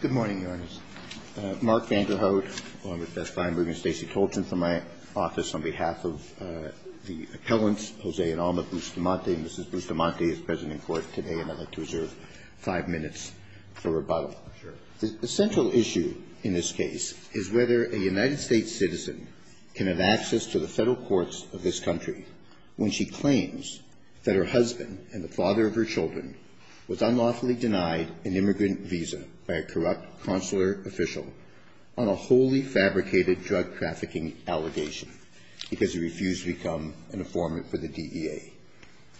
Good morning, Your Honors. Mark Vanderhout, along with Beth Kleinberg and Stacey Toulton from my office on behalf of the appellants, Jose and Alma Bustamante, and Mrs. Bustamante is present in court today, and I'd like to reserve five minutes for rebuttal. The central issue in this case is whether a United States citizen can have access to the federal courts of this country when she claims that her husband and the father of her children was unlawfully denied an immigrant visa by a corrupt consular official on a wholly fabricated drug trafficking allegation because he refused to become an informant for the DEA.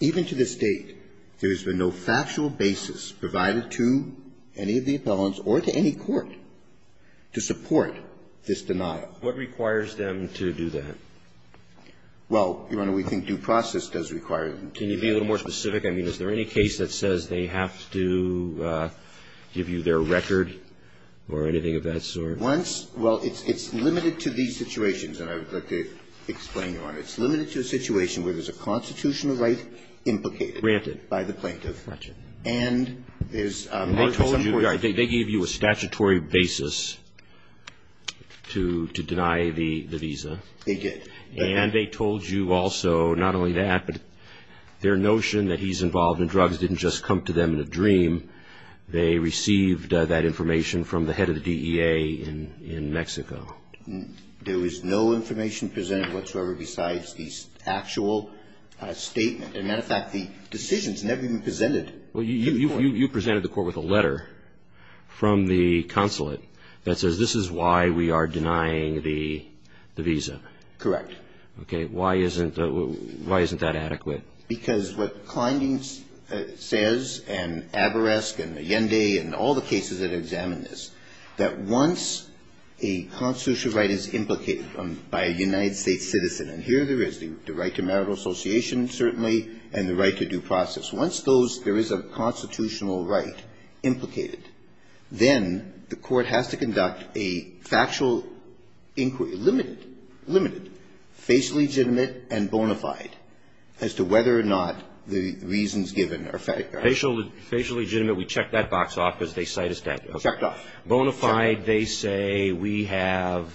Even to this date, there has been no factual basis provided to any of the appellants or to any court to support this denial. What requires them to do that? Well, Your Honor, we think due process does require them to do that. Can you be a little more specific? I mean, is there any case that says they have to give you their record or anything of that sort? Once, well, it's limited to these situations, and I would like to explain, Your Honor. It's limited to a situation where there's a constitutional right implicated. Granted. By the plaintiff. Got you. And there's a... They gave you a statutory basis to deny the visa. They did. And they told you also not only that, but their notion that he's involved in drugs didn't just come to them in a dream. They received that information from the head of the DEA in Mexico. There was no information presented whatsoever besides the actual statement. And, matter of fact, the decisions never even presented... Well, you presented the court with a letter from the consulate that says this is why we are denying the visa. Correct. Okay. Why isn't that adequate? Because what Kleining says, and Abourezk, and Allende, and all the cases that examine this, that once a constitutional right is implicated by a United States citizen, and here there is the right to marital association, certainly, and the right to due process, once those, there is a constitutional right implicated, then the court has to conduct a factual inquiry, limited, limited, facially legitimate and bona fide as to whether or not the reasons given are factual. Facially legitimate, we check that box off because they cite a statute. Checked off. Bona fide, they say we have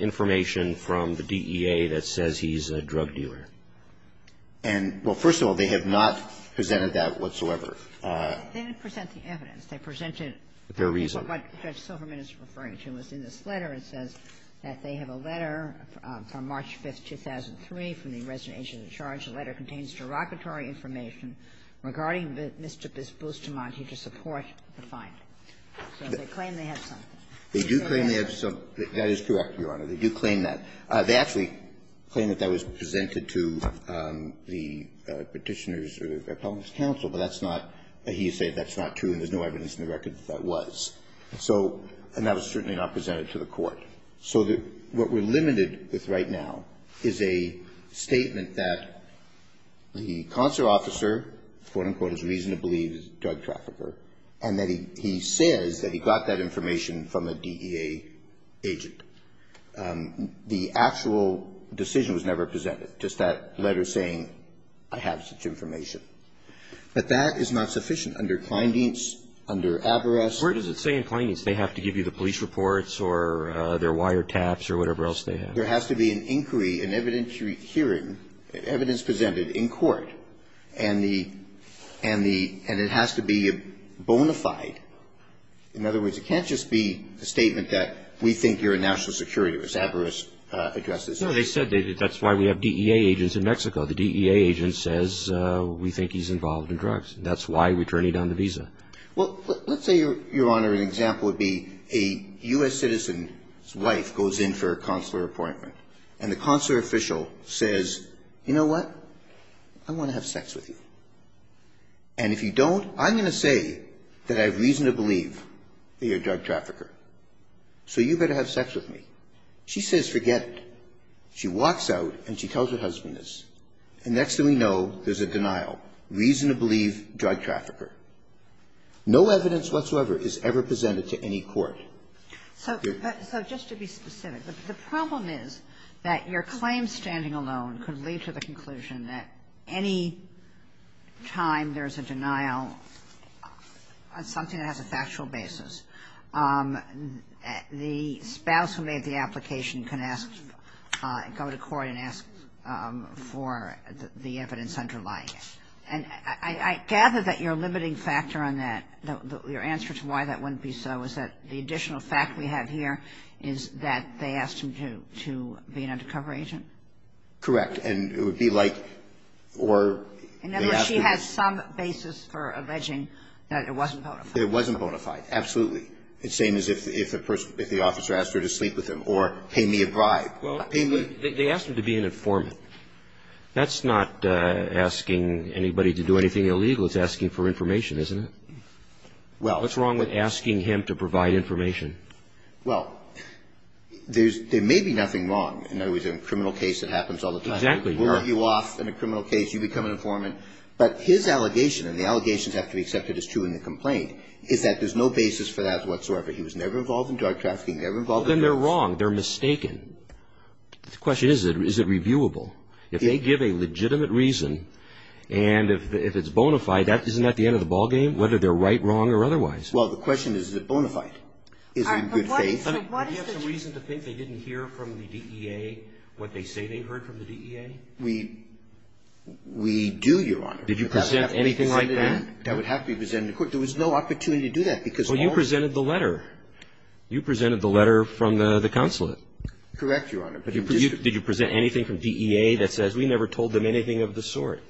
information from the DEA that says he's a drug dealer. And, well, first of all, they have not presented that whatsoever. They didn't present the evidence. They presented... Their reason. What Judge Silverman is referring to is in this letter, it says that they have a letter from March 5th, 2003 from the resident agent in charge. The letter contains derogatory information regarding Mr. Bustamante to support the finding. So they claim they have something. They do claim they have something. That is correct, Your Honor. They do claim that. They actually claim that that was presented to the Petitioner's or the Appellant's counsel, but that's not... He is saying that's not true and there's no evidence in the record that that was. So... And that was certainly not presented to the court. So what we're limited with right now is a statement that the consular officer, quote-unquote, has reason to believe is a drug trafficker, and that he says that he got that information from a DEA agent. The actual decision was never presented, just that letter saying I have such information. But that is not sufficient under Kleindienst, under Avarice. Where does it say in Kleindienst they have to give you the police reports or their wiretaps or whatever else they have? There has to be an inquiry, an evidentiary hearing, evidence presented in court, and it has to be bona fide. In other words, it can't just be a statement that we think you're in national security, as Avarice addresses it. No, they said that's why we have DEA agents in Mexico. The DEA agent says we think he's involved in drugs. That's why we're turning down the visa. Well, let's say, Your Honor, an example would be a U.S. citizen's wife goes in for a consular appointment, and the consular official says, you know what? I want to have sex with you. And if you don't, I'm going to say that I have reason to believe that you're a drug trafficker, so you better have sex with me. She says forget it. She walks out and she tells her husband this. And next thing we know, there's a denial. Reason to believe, drug trafficker. No evidence whatsoever is ever presented to any court. So just to be specific, the problem is that your claim standing alone could lead to the conclusion that any time there's a denial on something that has a factual basis, the spouse who made the application can ask, go to court and ask for the evidence underlying it. And I gather that your limiting factor on that, your answer to why that wouldn't be so, is that the additional fact we have here is that they asked him to be an undercover agent? And it would be like, or they asked him to be. In other words, she has some basis for alleging that it wasn't bona fide. Absolutely. It's the same as if the officer asked her to sleep with him or pay me a bribe. Well, they asked him to be an informant. That's not asking anybody to do anything illegal. It's asking for information, isn't it? Well. What's wrong with asking him to provide information? Well, there may be nothing wrong. In other words, in a criminal case, it happens all the time. Exactly. We'll argue off in a criminal case. You become an informant. But his allegation, and the allegations have to be accepted as true in the complaint, is that there's no basis for that whatsoever. He was never involved in drug trafficking, never involved in drugs. Then they're wrong. They're mistaken. The question is, is it reviewable? If they give a legitimate reason, and if it's bona fide, isn't that the end of the ballgame, whether they're right, wrong, or otherwise? Well, the question is, is it bona fide? Is it in good faith? All right. But what is the reason to think they didn't hear from the DEA what they say they heard from the DEA? We do, Your Honor. Did you present anything like that? That would have to be presented to court. There was no opportunity to do that, because all of these other things. Well, you presented the letter. You presented the letter from the consulate. Correct, Your Honor. But did you present anything from DEA that says, we never told them anything of the sort?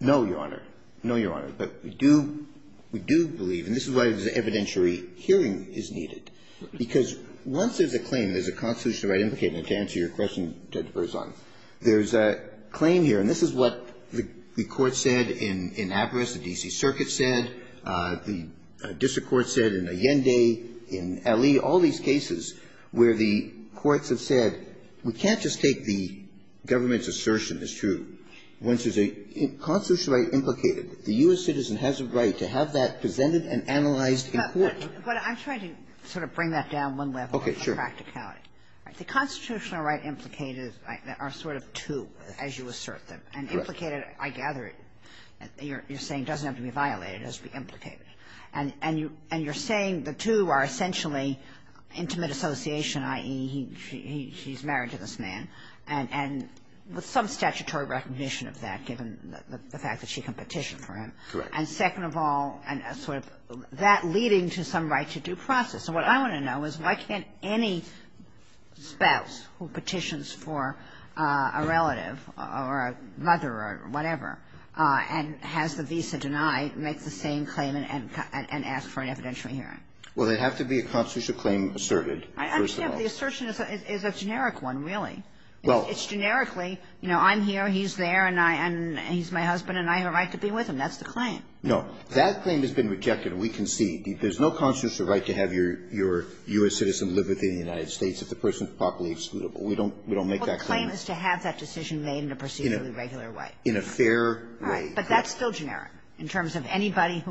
No, Your Honor. No, Your Honor. But we do believe, and this is why evidentiary hearing is needed, because once there's a claim, there's a constitutional right implicated, and to answer your question, Judge Berzon, there's a claim here, and this is what the court said in Avaris, the D.C. Circuit said, the district court said in Allende, in L.E., all these cases where the courts have said, we can't just take the government's assertion as true once there's a constitutional right implicated. The U.S. citizen has a right to have that presented and analyzed in court. But I'm trying to sort of bring that down one level. First of all, there's a practicality. The constitutional right implicated are sort of two, as you assert them. And implicated, I gather, you're saying doesn't have to be violated. It has to be implicated. And you're saying the two are essentially intimate association, i.e., he's married to this man, and with some statutory recognition of that, given the fact that she can petition for him. Correct. And second of all, and sort of that leading to some right to due process. And what I want to know is why can't any spouse who petitions for a relative or a mother or whatever and has the visa denied make the same claim and ask for an evidentiary hearing? Well, they have to be a constitutional claim asserted, first of all. I understand, but the assertion is a generic one, really. Well. It's generically, you know, I'm here, he's there, and he's my husband, and I have a right to be with him. That's the claim. That claim has been rejected. We concede. There's no constitutional right to have your U.S. citizen live within the United States if the person is properly excludable. We don't make that claim. Well, the claim is to have that decision made in a procedurally regular way. In a fair way. Right. But that's still generic in terms of anybody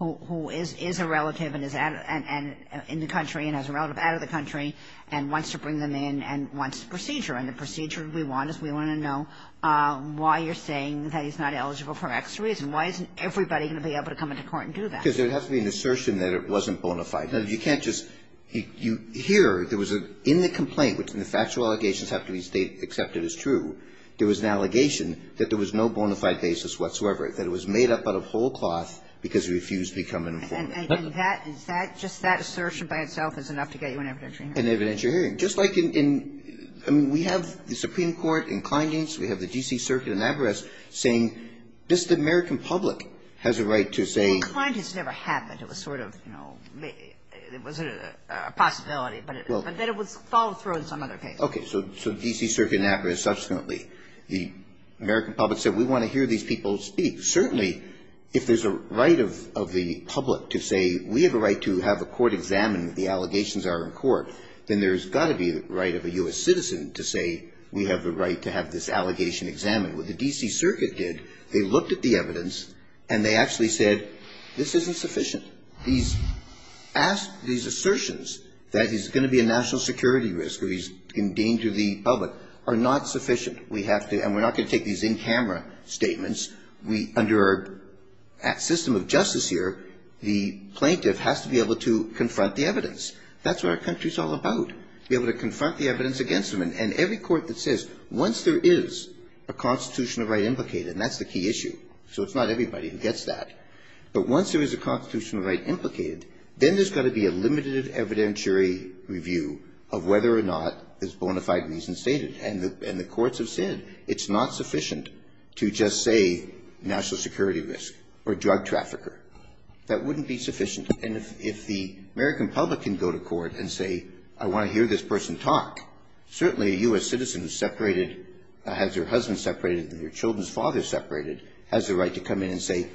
who is a relative and is in the country and has a relative out of the country and wants to bring them in and wants the procedure. And the procedure we want is we want to know why you're saying that he's not eligible for X reason. Why isn't everybody going to be able to come into court and do that? Because there has to be an assertion that it wasn't bona fide. Now, you can't just hear there was a – in the complaint, which the factual allegations have to be accepted as true, there was an allegation that there was no bona fide basis whatsoever, that it was made up out of whole cloth because he refused to become an informant. And that – is that – just that assertion by itself is enough to get you an evidentiary hearing. An evidentiary hearing. Just like in – I mean, we have the Supreme Court in Kleindienst, we have the D.C. Circuit in Navarez saying this American public has a right to say – Well, Kleindienst never happened. It was sort of, you know, it was a possibility, but then it was followed through in some other case. Okay. So the D.C. Circuit in Navarez subsequently, the American public said we want to hear these people speak. Certainly, if there's a right of the public to say we have a right to have a court examine what the allegations are in court, then there's got to be the right of a U.S. citizen to say we have the right to have this allegation examined. What the D.C. Circuit did, they looked at the evidence and they actually said this isn't sufficient. These – these assertions that he's going to be a national security risk or he's in danger of the public are not sufficient. We have to – and we're not going to take these in-camera statements. We – under our system of justice here, the plaintiff has to be able to confront the evidence. That's what our country's all about. And every court that says once there is a constitutional right implicated, and that's the key issue, so it's not everybody who gets that, but once there is a constitutional right implicated, then there's got to be a limited evidentiary review of whether or not this bona fide reason is stated. And the courts have said it's not sufficient to just say national security risk or drug trafficker. That wouldn't be sufficient. And if the American public can go to court and say I want to hear this person talk, certainly a U.S. citizen separated – has their husband separated and their children's father separated has the right to come in and say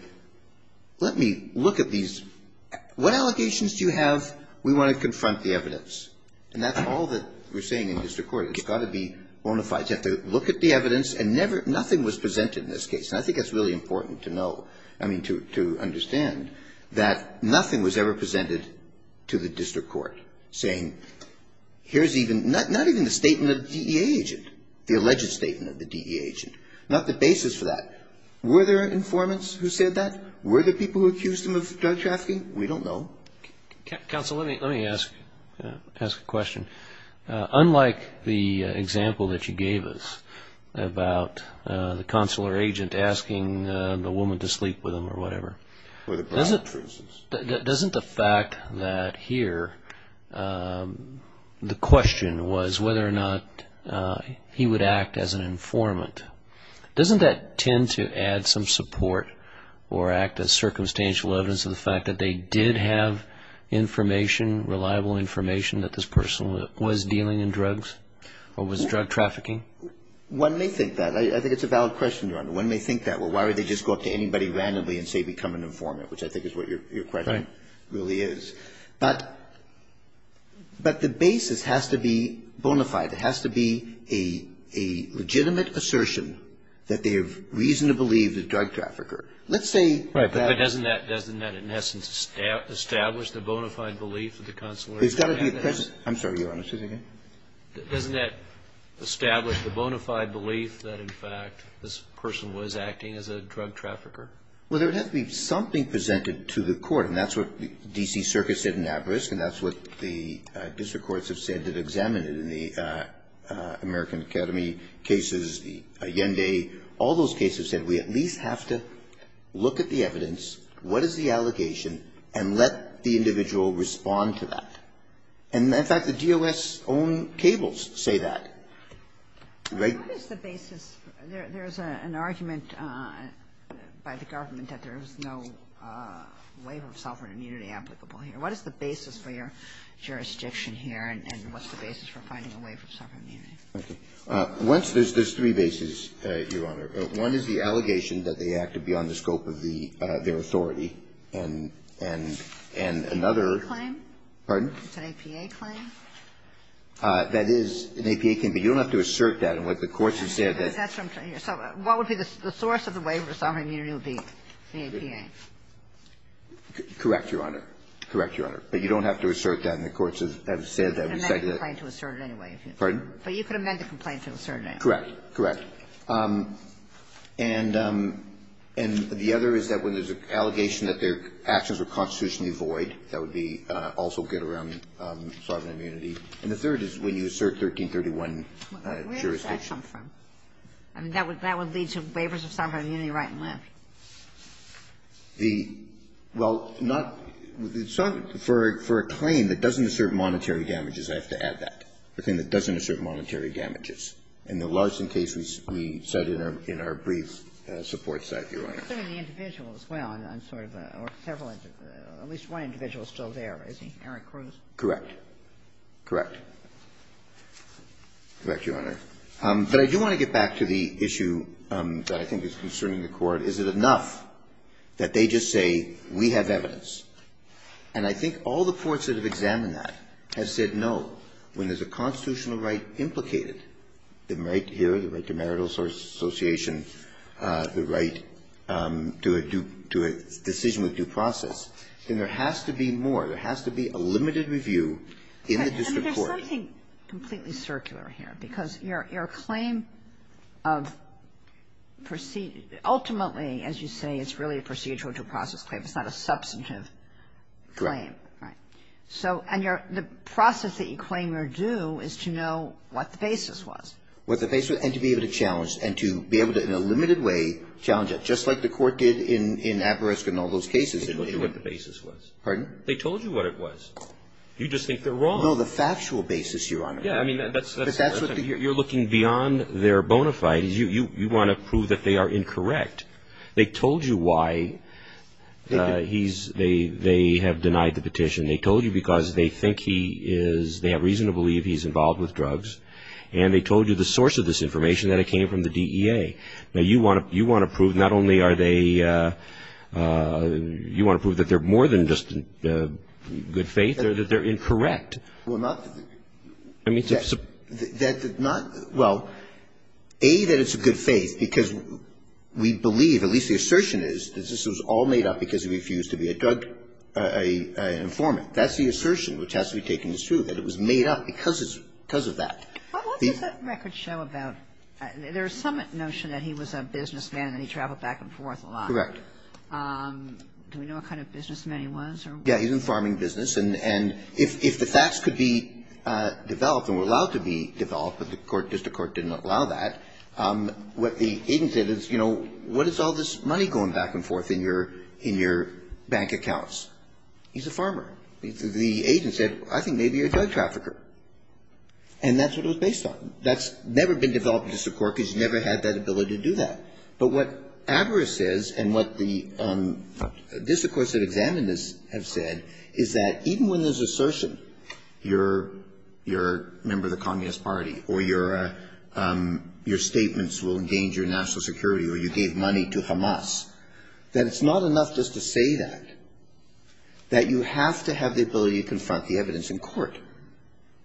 let me look at these – what allegations do you have? We want to confront the evidence. And that's all that we're saying in district court. It's got to be bona fide. You have to look at the evidence and never – nothing was presented in this case. And I think it's really important to know – I mean to understand that nothing was ever presented to the district court saying here's even – not even the statement of the DEA agent, the alleged statement of the DEA agent, not the basis for that. Were there informants who said that? Were there people who accused them of drug trafficking? We don't know. Counsel, let me ask a question. Unlike the example that you gave us about the consular agent asking the woman to sleep with him or whatever, doesn't the fact that here the question was whether or not he would act as an informant, doesn't that tend to add some support or act as circumstantial evidence of the fact that they did have information, reliable information that this person was dealing in drugs or was drug trafficking? One may think that. I think it's a valid question, Your Honor. One may think that. Well, why would they just go up to anybody randomly and say become an informant, which I think is what your question really is. But the basis has to be bona fide. It has to be a legitimate assertion that they have reason to believe the drug trafficker. Let's say. Right. But doesn't that in essence establish the bona fide belief of the consular agent? I'm sorry, Your Honor. Say that again. Doesn't that establish the bona fide belief that, in fact, this person was acting as a drug trafficker? Well, there would have to be something presented to the court, and that's what the D.C. Circuit said in Abrisk, and that's what the district courts have said that examined it in the American Academy cases, the Allende. All those cases said we at least have to look at the evidence, what is the allegation, and let the individual respond to that. And, in fact, the DOS own cables say that. Right? What is the basis? There's an argument by the government that there is no waiver of sovereign immunity applicable here. What is the basis for your jurisdiction here, and what's the basis for finding a waiver of sovereign immunity? Okay. There's three bases, Your Honor. One is the allegation that they acted beyond the scope of their authority, and another Claim? Pardon? It's an APA claim? That is an APA claim, but you don't have to assert that in what the courts have said. That's what I'm trying to hear. So what would be the source of the waiver of sovereign immunity would be? The APA. Correct, Your Honor. Correct, Your Honor. But you don't have to assert that in the courts that have said that. And they didn't claim to assert it anyway. But you could amend the complaint to assert it anyway. Correct. Correct. And the other is that when there's an allegation that their actions were constitutionally void, that would be also good around sovereign immunity. And the third is when you assert 1331 jurisdiction. Where does that come from? I mean, that would lead to waivers of sovereign immunity right and left. The – well, not – for a claim that doesn't assert monetary damages, I have to add that, a claim that doesn't assert monetary damages. And the Larson case we cite in our brief supports that, Your Honor. I'm assuming the individual as well. I'm sort of a – or several – at least one individual is still there, isn't he? Eric Cruz? Correct. Correct. Correct, Your Honor. But I do want to get back to the issue that I think is concerning the Court. Is it enough that they just say, we have evidence? And I think all the courts that have examined that have said no. When there's a constitutional right implicated, the right here, the right to marital association, the right to a due – to a decision with due process, then there has to be more. There has to be a limited review in the district court. I mean, there's something completely circular here, because your claim of – ultimately, as you say, it's really a procedural due process claim. It's not a substantive claim. Right. So – and your – the process that you claim you're due is to know what the basis was. What the basis – and to be able to challenge and to be able to, in a limited way, challenge it. Just like the Court did in – in Averesco and all those cases. They told you what the basis was. Pardon? They told you what it was. You just think they're wrong. No. The factual basis, Your Honor. Yeah. I mean, that's the first thing. You're looking beyond their bona fides. You want to prove that they are incorrect. They told you why he's – they have denied the petition. They told you because they think he is – they have reason to believe he's involved with drugs. And they told you the source of this information, that it came from the DEA. Now, you want to prove not only are they – you want to prove that they're more than just good faith or that they're incorrect. Well, not – I mean, to – Well, A, that it's a good faith because we believe, at least the assertion is, that this was all made up because he refused to be a drug informant. That's the assertion which has to be taken as true, that it was made up because it's – because of that. What does that record show about – there is some notion that he was a businessman and that he traveled back and forth a lot. Correct. Do we know what kind of businessman he was? Yeah. He was in the farming business. And if the facts could be developed and were allowed to be developed, but the court – just the court didn't allow that, what the agent said is, you know, what is all this money going back and forth in your – in your bank accounts? He's a farmer. The agent said, I think maybe a drug trafficker. And that's what it was based on. That's never been developed in this court because you never had that ability to do that. But what avarice is, and what the – this, of course, that examined this have said, is that even when there's assertion, you're a member of the Communist Party or you're a – your statements will endanger national security or you gave money to Hamas, that it's not enough just to say that, that you have to have the ability to confront the evidence in court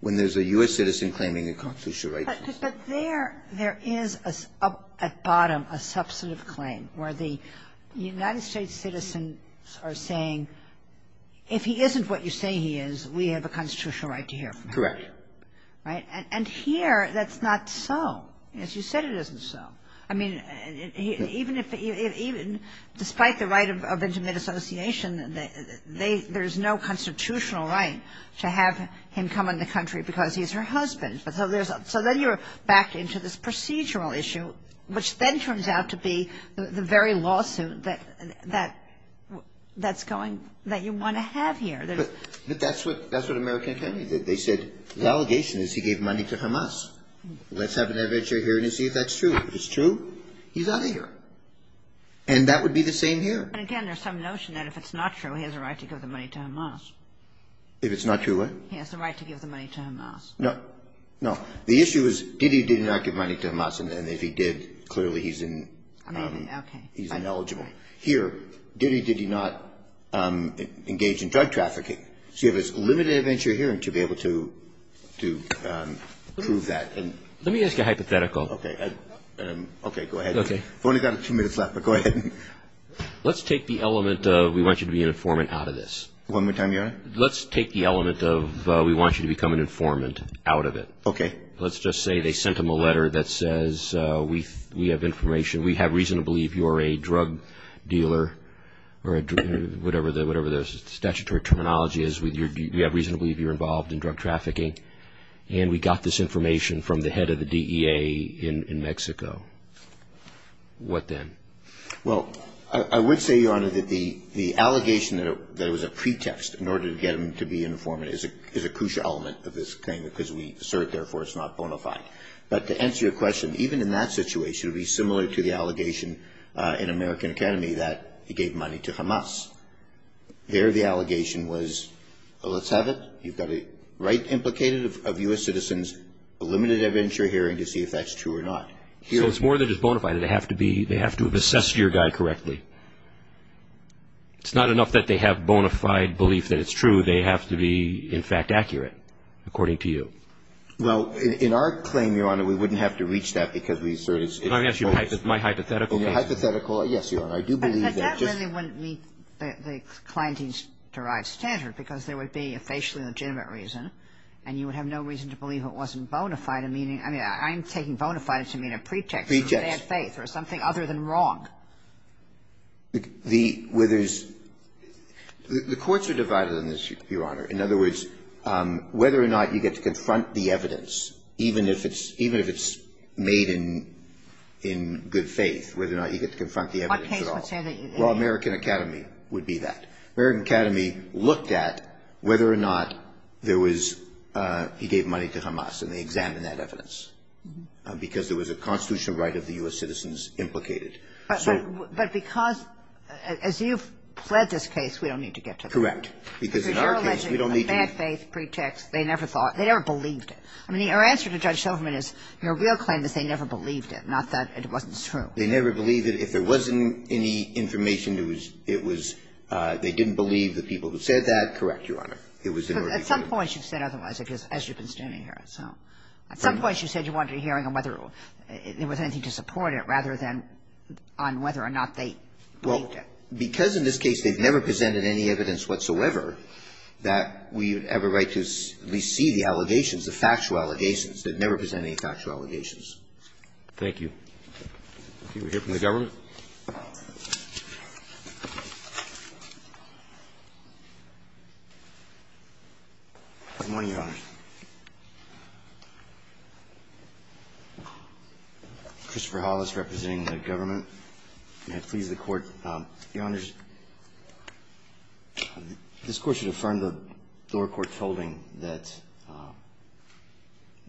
when there's a U.S. citizen claiming a constitutional right. But there – there is at bottom a substantive claim where the United States citizens are saying, if he isn't what you say he is, we have a constitutional right to hear from him. Correct. Right? And here, that's not so. As you said, it isn't so. I mean, even if – even despite the right of intimate association, they – there's no constitutional right to have him come in the country because he's her husband. But so there's – so then you're back into this procedural issue, which then turns out to be the very lawsuit that – that's going – that you want to have here. But that's what – that's what American Academy did. They said, the allegation is he gave money to Hamas. Let's have an inventory here and see if that's true. If it's true, he's out of here. And that would be the same here. And again, there's some notion that if it's not true, he has a right to give the money to Hamas. If it's not true, what? He has the right to give the money to Hamas. No. No. The issue is, did he – did he not give money to Hamas? And if he did, clearly he's in – he's ineligible. Here, did he – did he not engage in drug trafficking? So you have this limited venture here to be able to prove that. Let me ask a hypothetical. Okay. Okay, go ahead. Okay. We've only got two minutes left, but go ahead. Let's take the element of we want you to be an informant out of this. One more time, Your Honor? Let's take the element of we want you to become an informant out of it. Okay. Let's just say they sent him a letter that says we have information, we have reason to believe you're a drug dealer or a – whatever the statutory terminology is. We have reason to believe you're involved in drug trafficking. And we got this information from the head of the DEA in Mexico. What then? Well, I would say, Your Honor, that the allegation that it was a pretext in order to get him to be an informant is a crucial element of this claim because we assert, therefore, it's not bona fide. But to answer your question, even in that situation, it would be similar to the allegation in American Academy that he gave money to Hamas. There the allegation was, well, let's have it. You've got a right implicated of U.S. citizens, a limited venture hearing to see if that's true or not. So it's more than just bona fide. They have to be – they have to have assessed your guy correctly. It's not enough that they have bona fide belief that it's true. They have to be, in fact, accurate, according to you. Well, in our claim, Your Honor, we wouldn't have to reach that because we assert it's false. Let me ask you my hypothetical. Hypothetical, yes, Your Honor. I do believe that it's just – But that really wouldn't meet the clienteen's derived standard because there would be a facially legitimate reason and you would have no reason to believe it wasn't bona fide, meaning – I mean, I'm taking bona fide to mean a pretext. Pretext. For bad faith or something other than wrong. The – whether there's – the courts are divided on this, Your Honor. In other words, whether or not you get to confront the evidence, even if it's – even if it's made in good faith, whether or not you get to confront the evidence at all. What case would say that you did? Well, American Academy would be that. American Academy looked at whether or not there was – he gave money to Hamas and they examined that evidence because there was a constitutional right of the U.S. citizens implicated. So – But because – as you've fled this case, we don't need to get to that. Correct. Because in our case, we don't need to – Because you're alleging a bad faith pretext. They never thought – they never believed it. I mean, our answer to Judge Silverman is your real claim is they never believed it, not that it wasn't true. They never believed it. If there wasn't any information, it was – it was – they didn't believe the people who said that. Correct, Your Honor. It was in order to prove it. But at some point, you said otherwise, as you've been standing here. So at some point, you said you wanted a hearing on whether there was anything to support it rather than on whether or not they believed it. Well, because in this case, they've never presented any evidence whatsoever that we have a right to at least see the allegations, the factual allegations. They've never presented any factual allegations. Thank you. Okay. We hear from the government. Good morning, Your Honor. Christopher Hollis representing the government. May it please the Court. Your Honor, this Court should affirm the lower court's holding that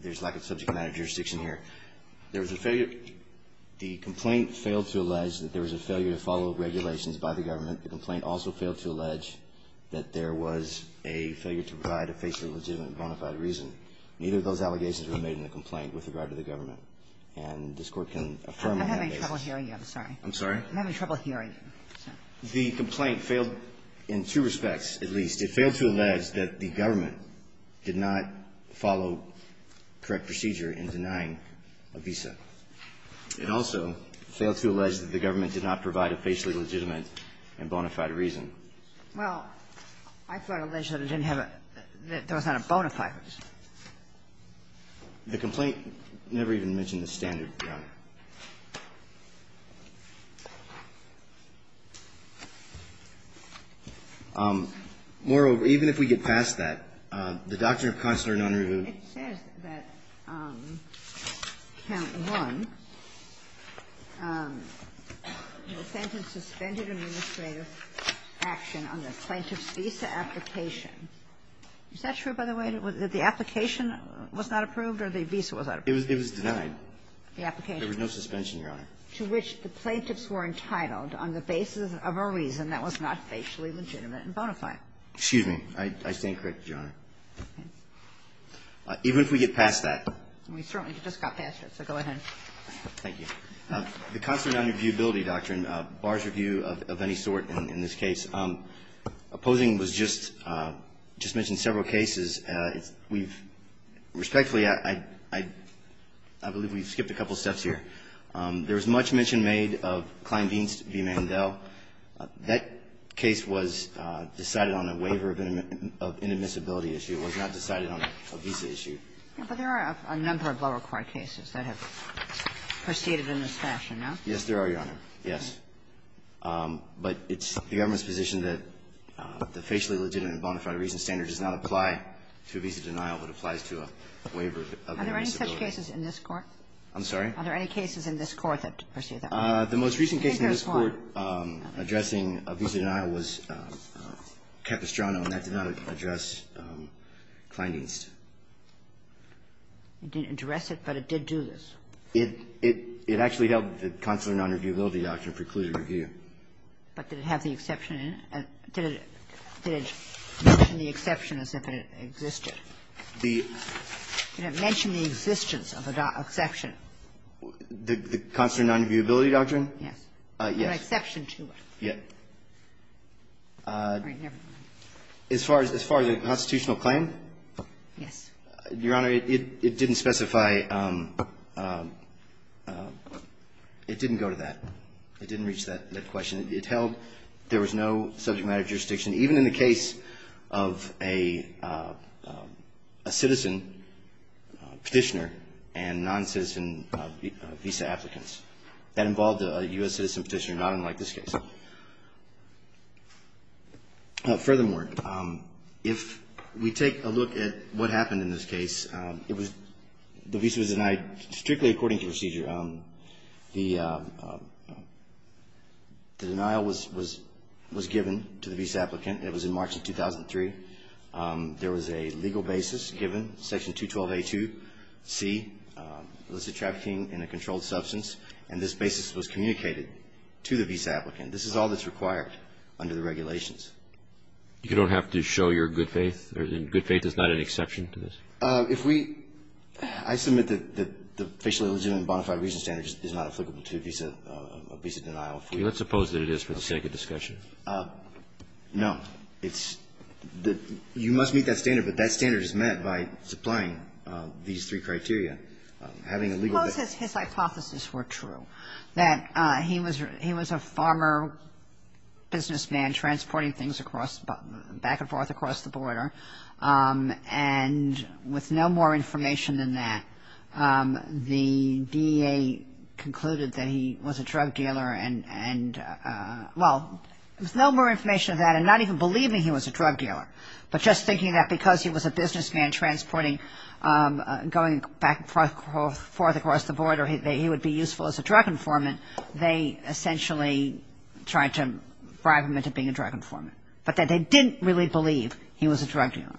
there's lack of subject matter jurisdiction here. There was a failure – the complaint failed to allege that there was a failure to follow regulations by the government. The complaint also failed to allege that there was a failure to provide a face of legitimate and bona fide reason. Neither of those allegations were made in the complaint with regard to the government. And this Court can affirm on that basis. I'm having trouble hearing you. I'm sorry. I'm sorry? I'm having trouble hearing you. The complaint failed in two respects, at least. It failed to allege that the government did not follow correct procedure in denying a visa. It also failed to allege that the government did not provide a facially legitimate and bona fide reason. Well, I thought allegedly it didn't have a – there was not a bona fide reason. The complaint never even mentioned the standard, Your Honor. Moreover, even if we get past that, the Doctrine of Constituent Non-Review. It says that, count one, the defendant suspended administrative action on the plaintiff's visa application. Is that true, by the way? That the application was not approved or the visa was not approved? It was denied. The application. There was no suspension, Your Honor. To which the plaintiffs were entitled on the basis of a reason that was not facially legitimate and bona fide. Excuse me. I stand corrected, Your Honor. Okay. Even if we get past that. We certainly just got past it, so go ahead. Thank you. The Constituent Non-Reviewability Doctrine bars review of any sort in this case. Opposing was just mentioned in several cases. Respectfully, I believe we've skipped a couple steps here. There was much mention made of Klein-Dienst v. Mandel. That case was decided on a waiver of inadmissibility issue. It was not decided on a visa issue. But there are a number of law-required cases that have proceeded in this fashion, no? Yes, there are, Your Honor. Yes. But it's the government's position that the facially legitimate and bona fide reason does not apply to a visa denial, but applies to a waiver of inadmissibility. Are there any such cases in this Court? I'm sorry? Are there any cases in this Court that proceed that way? The most recent case in this Court addressing a visa denial was Capistrano, and that did not address Klein-Dienst. It didn't address it, but it did do this. It actually helped the Constituent Non-Reviewability Doctrine preclude a review. But did it have the exception in it? Did it mention the exception as if it existed? The — Did it mention the existence of an exception? The Constituent Non-Reviewability Doctrine? Yes. Yes. An exception to it. Yes. As far as the constitutional claim? Yes. Your Honor, it didn't specify — it didn't go to that. It didn't reach that question. It held there was no subject matter jurisdiction, even in the case of a citizen petitioner and non-citizen visa applicants. That involved a U.S. citizen petitioner, not unlike this case. Furthermore, if we take a look at what happened in this case, it was — the visa was denied strictly according to procedure. The denial was given to the visa applicant. It was in March of 2003. There was a legal basis given, Section 212A2C, illicit trafficking in a controlled substance. And this basis was communicated to the visa applicant. This is all that's required under the regulations. You don't have to show your good faith? Good faith is not an exception to this? If we — I submit that the facially legitimate and bona fide reason standard is not applicable to a visa denial. Let's suppose that it is for the sake of discussion. No. It's — you must meet that standard, but that standard is met by supplying these three criteria. Having a legal basis — Close says his hypotheses were true, that he was a farmer businessman transporting things across — back and forth across the border. And with no more information than that, the DEA concluded that he was a drug dealer and — well, with no more information than that and not even believing he was a drug dealer, but just thinking that because he was a businessman transporting — going back and forth across the border, he would be useful as a drug informant, they essentially tried to bribe him into being a drug informant, but that they didn't really believe he was a drug dealer.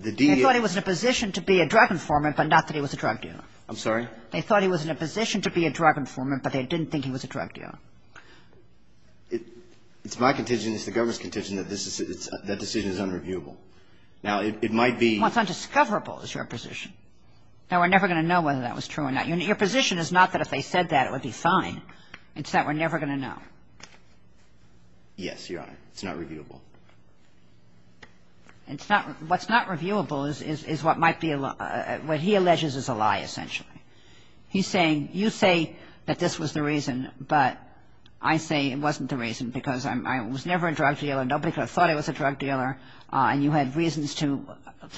The DEA — They thought he was in a position to be a drug informant, but not that he was a drug dealer. I'm sorry? They thought he was in a position to be a drug informant, but they didn't think he was a drug dealer. It's my contention, it's the government's contention, that this is — that decision is unreviewable. Now, it might be — Well, it's undiscoverable is your position. Now, we're never going to know whether that was true or not. Your position is not that if they said that, it would be fine. It's that we're never going to know. Yes, Your Honor. It's not reviewable. It's not — what's not reviewable is what might be — what he alleges is a lie, essentially. He's saying, you say that this was the reason, but I say it wasn't the reason because I was never a drug dealer, nobody could have thought I was a drug dealer, and you had reasons to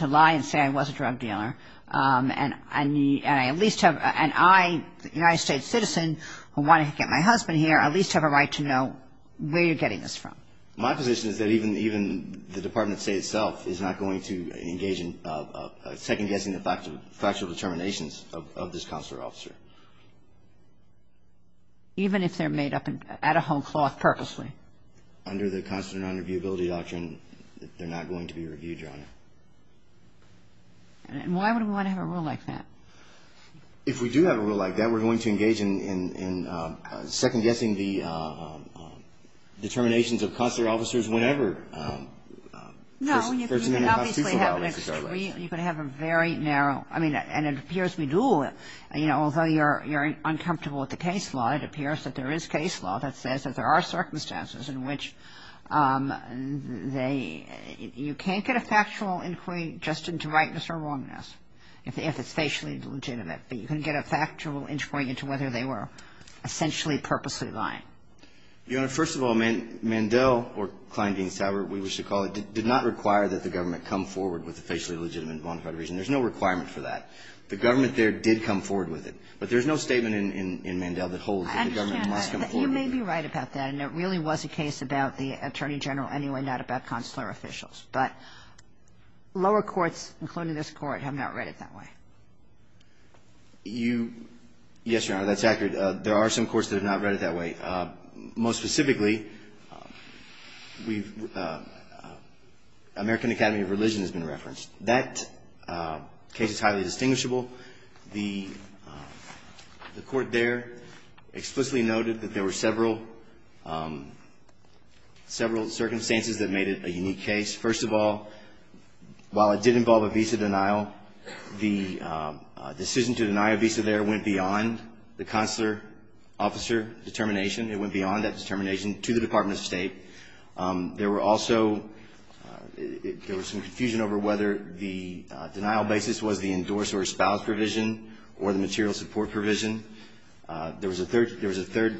lie and say I was a drug dealer, and I at least have — and I, a United States citizen who wanted to get my husband here, I at least have a right to know where you're getting this from. My position is that even the Department of State itself is not going to engage in second-guessing the factual determinations of this consular officer. Even if they're made up at a home cloth purposely? Under the consular nonreviewability doctrine, they're not going to be reviewed, Your Honor. And why would we want to have a rule like that? If we do have a rule like that, we're going to engage in second-guessing the determinations of consular officers whenever First Amendment constitutes a violation. No, you can obviously have an extreme — you can have a very narrow — I mean, and it appears we do. You know, although you're uncomfortable with the case law, it appears that there is case law that says that there are circumstances in which they — you can't get a factual inquiry just into rightness or wrongness if it's facially legitimate. But you can get a factual inquiry into whether they were essentially, purposely lying. Your Honor, first of all, Mandel, or Kleindiensthaber, we wish to call it, did not require that the government come forward with a facially legitimate and bona fide reason. There's no requirement for that. The government there did come forward with it. But there's no statement in Mandel that holds that the government must come forward with it. I understand, but you may be right about that, and it really was a case about the Attorney General anyway, not about consular officials. But lower courts, including this Court, have not read it that way. You — yes, Your Honor, that's accurate. There are some courts that have not read it that way. Most specifically, we've — American Academy of Religion has been referenced. That case is highly distinguishable. The court there explicitly noted that there were several — several circumstances that made it a unique case. First of all, while it did involve a visa denial, the decision to deny a visa there went beyond the consular officer determination. It went beyond that determination to the Department of State. There were also — there was some confusion over whether the denial basis was the endorse or espouse provision or the material support provision. There was a third — there was a third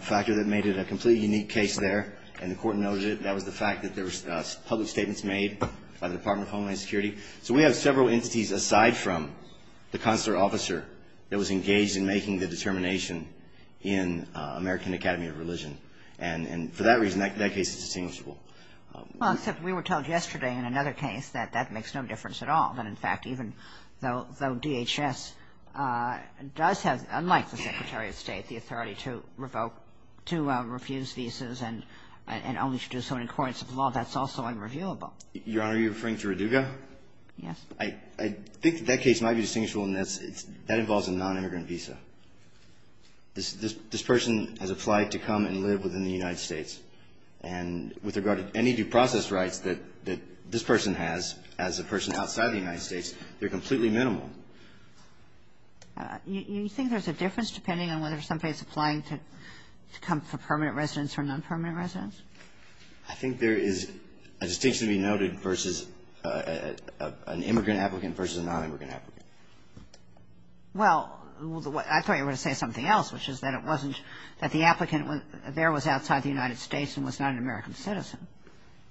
factor that made it a completely unique case there, and the court noted it, and that was the fact that there were public statements made by the Department of Homeland Security. So we have several entities, aside from the consular officer, that was engaged in making the determination in American Academy of Religion. And for that reason, that case is distinguishable. Well, except we were told yesterday in another case that that makes no difference at all, that, in fact, even though DHS does have, unlike the Secretary of State, the authority to revoke — to refuse visas and only to do so in accordance with law, that's also unreviewable. Your Honor, are you referring to Roduga? Yes. I think that that case might be distinguishable in that it's — that involves a nonimmigrant visa. This person has applied to come and live within the United States, and with regard to any due process rights that this person has as a person outside of the United States, they're completely minimal. You think there's a difference depending on whether somebody is applying to come for permanent residence or nonpermanent residence? I think there is a distinction to be noted versus an immigrant applicant versus a nonimmigrant applicant. Well, I thought you were going to say something else, which is that it wasn't — that the applicant there was outside the United States and was not an American citizen.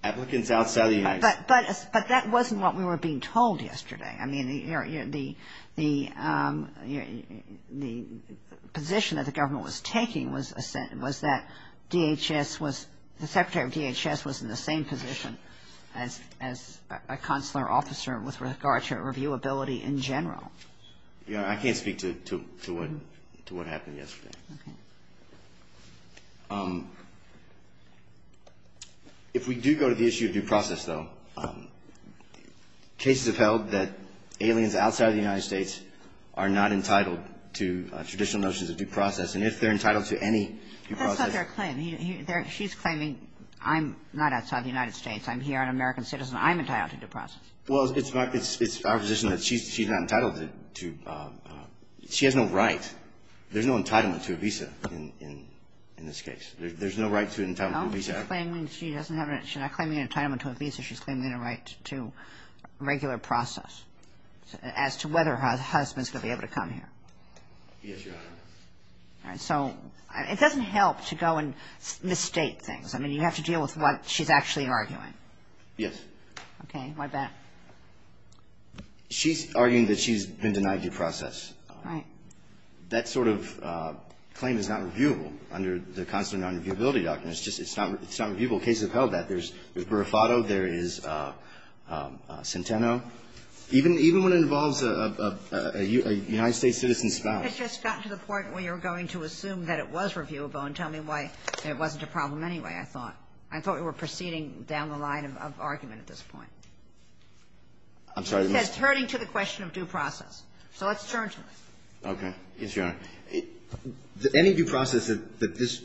Applicants outside the United States. But that wasn't what we were being told yesterday. I mean, the position that the government was taking was that DHS was — the secretary of DHS was in the same position as a consular officer with regard to reviewability in general. Your Honor, I can't speak to what happened yesterday. Okay. If we do go to the issue of due process, though, cases have held that aliens outside of the United States are not entitled to traditional notions of due process. And if they're entitled to any due process — That's not their claim. She's claiming I'm not outside the United States. I'm here an American citizen. I'm entitled to due process. Well, it's our position that she's not entitled to — she has no right. There's no entitlement to a visa. In this case. There's no right to an entitlement to a visa. She's not claiming an entitlement to a visa. She's claiming a right to regular process as to whether her husband's going to be able to come here. Yes, Your Honor. All right. So it doesn't help to go and misstate things. I mean, you have to deal with what she's actually arguing. Yes. Okay. My bad. She's arguing that she's been denied due process. Right. That sort of claim is not reviewable under the Constitutional Nonreviewability Doctrine. It's just — it's not reviewable. Cases have held that. There's Burifato. There is Centeno. Even when it involves a United States citizen's spouse. It's just gotten to the point where you're going to assume that it was reviewable and tell me why it wasn't a problem anyway, I thought. I thought we were proceeding down the line of argument at this point. I'm sorry. It's herding to the question of due process. So let's turn to it. Okay. Yes, Your Honor. Any due process that this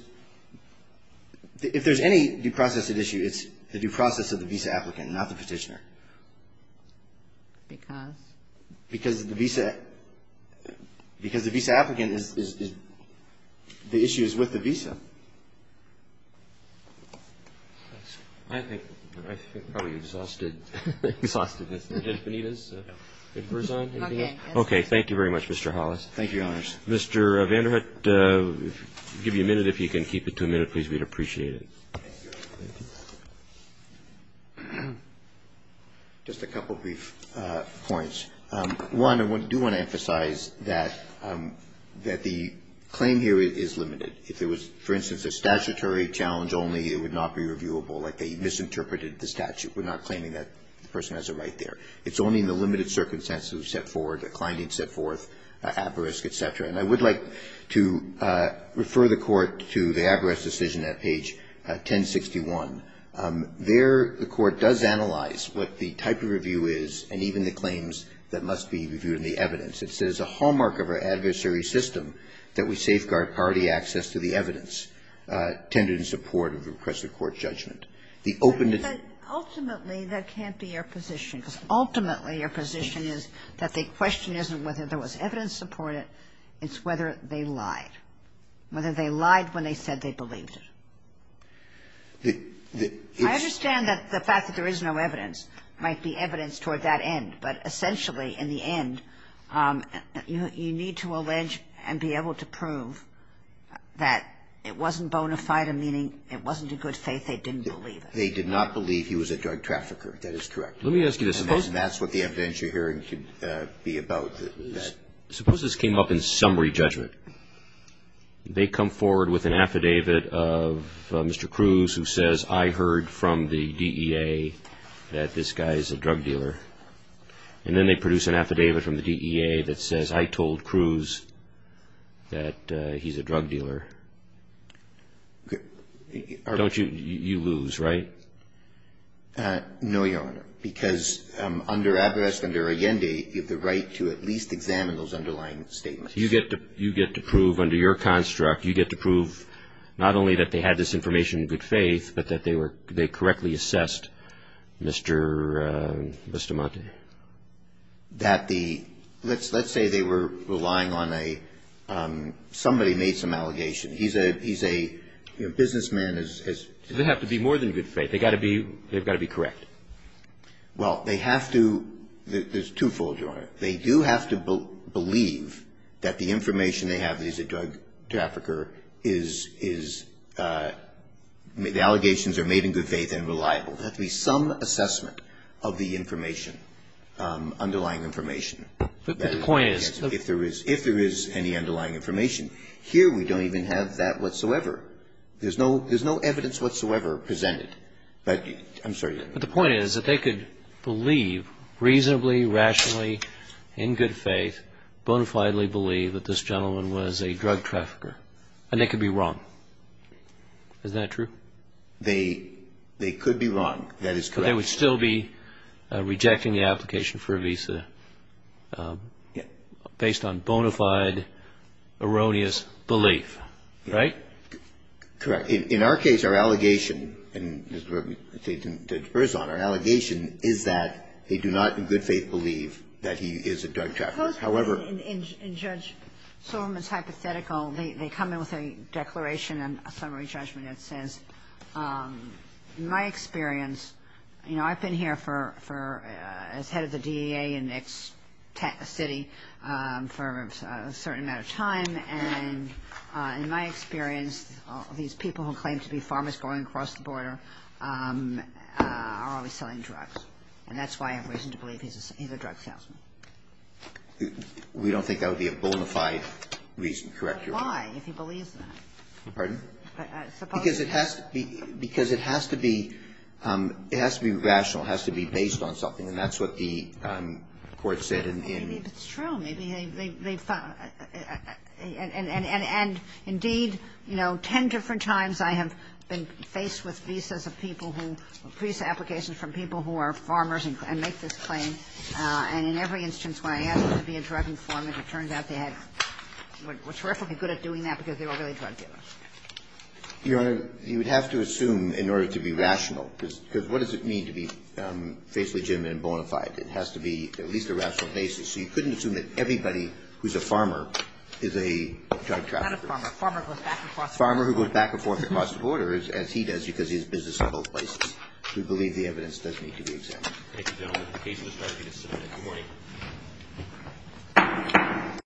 — if there's any due process at issue, it's the due process of the visa applicant, not the petitioner. Because? Because the visa applicant is — the issue is with the visa. I think probably exhausted. Exhausted as Judge Benitez. Okay. Okay. Thank you very much, Mr. Hollis. Thank you, Your Honors. Mr. Vanderhut, I'll give you a minute. If you can keep it to a minute, please, we'd appreciate it. Thank you. Just a couple of brief points. One, I do want to emphasize that the claim here is limited. If it was, for instance, a statutory challenge only, it would not be reviewable like they misinterpreted the statute. We're not claiming that the person has a right there. It's only in the limited circumstances that we've set forward, that Kleindienst set forth, at-risk, et cetera. And I would like to refer the Court to the at-risk decision at page 1061. There, the Court does analyze what the type of review is and even the claims that must be reviewed in the evidence. It says a hallmark of our adversary system that we safeguard priority access to the evidence tended in support of a repressive court judgment. The openness — But ultimately, that can't be our position. Because ultimately, your position is that the question isn't whether there was evidence supported, it's whether they lied. Whether they lied when they said they believed it. The — I understand that the fact that there is no evidence might be evidence toward that end, but essentially, in the end, you need to allege and be able to prove that it wasn't bona fide, meaning it wasn't a good faith, they didn't believe it. They did not believe he was a drug trafficker. That is correct. Let me ask you this. Suppose — And that's what the evidentiary hearing should be about. Suppose this came up in summary judgment. They come forward with an affidavit of Mr. Cruz who says, I heard from the DEA that this guy is a drug dealer. And then they produce an affidavit from the DEA that says, I told Cruz that he's a drug dealer. Don't you — you lose, right? No, Your Honor. Because under abreast, under Allende, you have the right to at least examine those underlying statements. You get to prove under your construct, you get to prove not only that they had this information in good faith, but that they were — they correctly assessed, Mr. Monti. That the — let's say they were relying on a — somebody made some allegation. He's a — he's a businessman as — They have to be more than good faith. They've got to be — they've got to be correct. Well, they have to — there's twofold, Your Honor. They do have to believe that the information they have that he's a drug trafficker is — the allegations are made in good faith and reliable. There has to be some assessment of the information, underlying information. But the point is — If there is any underlying information. Here we don't even have that whatsoever. There's no — there's no evidence whatsoever presented. But — I'm sorry. But the point is that they could believe reasonably, rationally, in good faith, bona fidely believe that this gentleman was a drug trafficker. And they could be wrong. Is that true? They — they could be wrong. That is correct. But they would still be rejecting the application for a visa. Yeah. Based on bona fide, erroneous belief. Right? Correct. In our case, our allegation, and Judge Berzon, our allegation is that they do not in good faith believe that he is a drug trafficker. However — In Judge Silverman's hypothetical, they come in with a declaration, a summary judgment that says, in my experience, you know, I've been here for — as head of the DEA in the next city for a certain amount of time. And in my experience, these people who claim to be farmers going across the border are always selling drugs. And that's why I have reason to believe he's a drug salesman. We don't think that would be a bona fide reason. Correct your question. But why, if he believes that? Pardon? Because it has to be — because it has to be — it has to be rational. It has to be based on something. And that's what the Court said in — Maybe it's true. Maybe they found — and, indeed, you know, ten different times I have been faced with visas of people who — visa applications from people who are farmers and make this claim. And in every instance when I asked them to be a drug informant, it turned out they had — were terrifically good at doing that because they were really drug dealers. Your Honor, you would have to assume in order to be rational, because what does it mean to be faithfully legitimate and bona fide? It has to be at least a rational basis. So you couldn't assume that everybody who's a farmer is a drug trafficker. Not a farmer. A farmer who goes back and forth across the border. A farmer who goes back and forth across the border, as he does because he has business in both places. We believe the evidence does need to be examined. Thank you, gentlemen. The case will start again at 7 a.m. Good morning.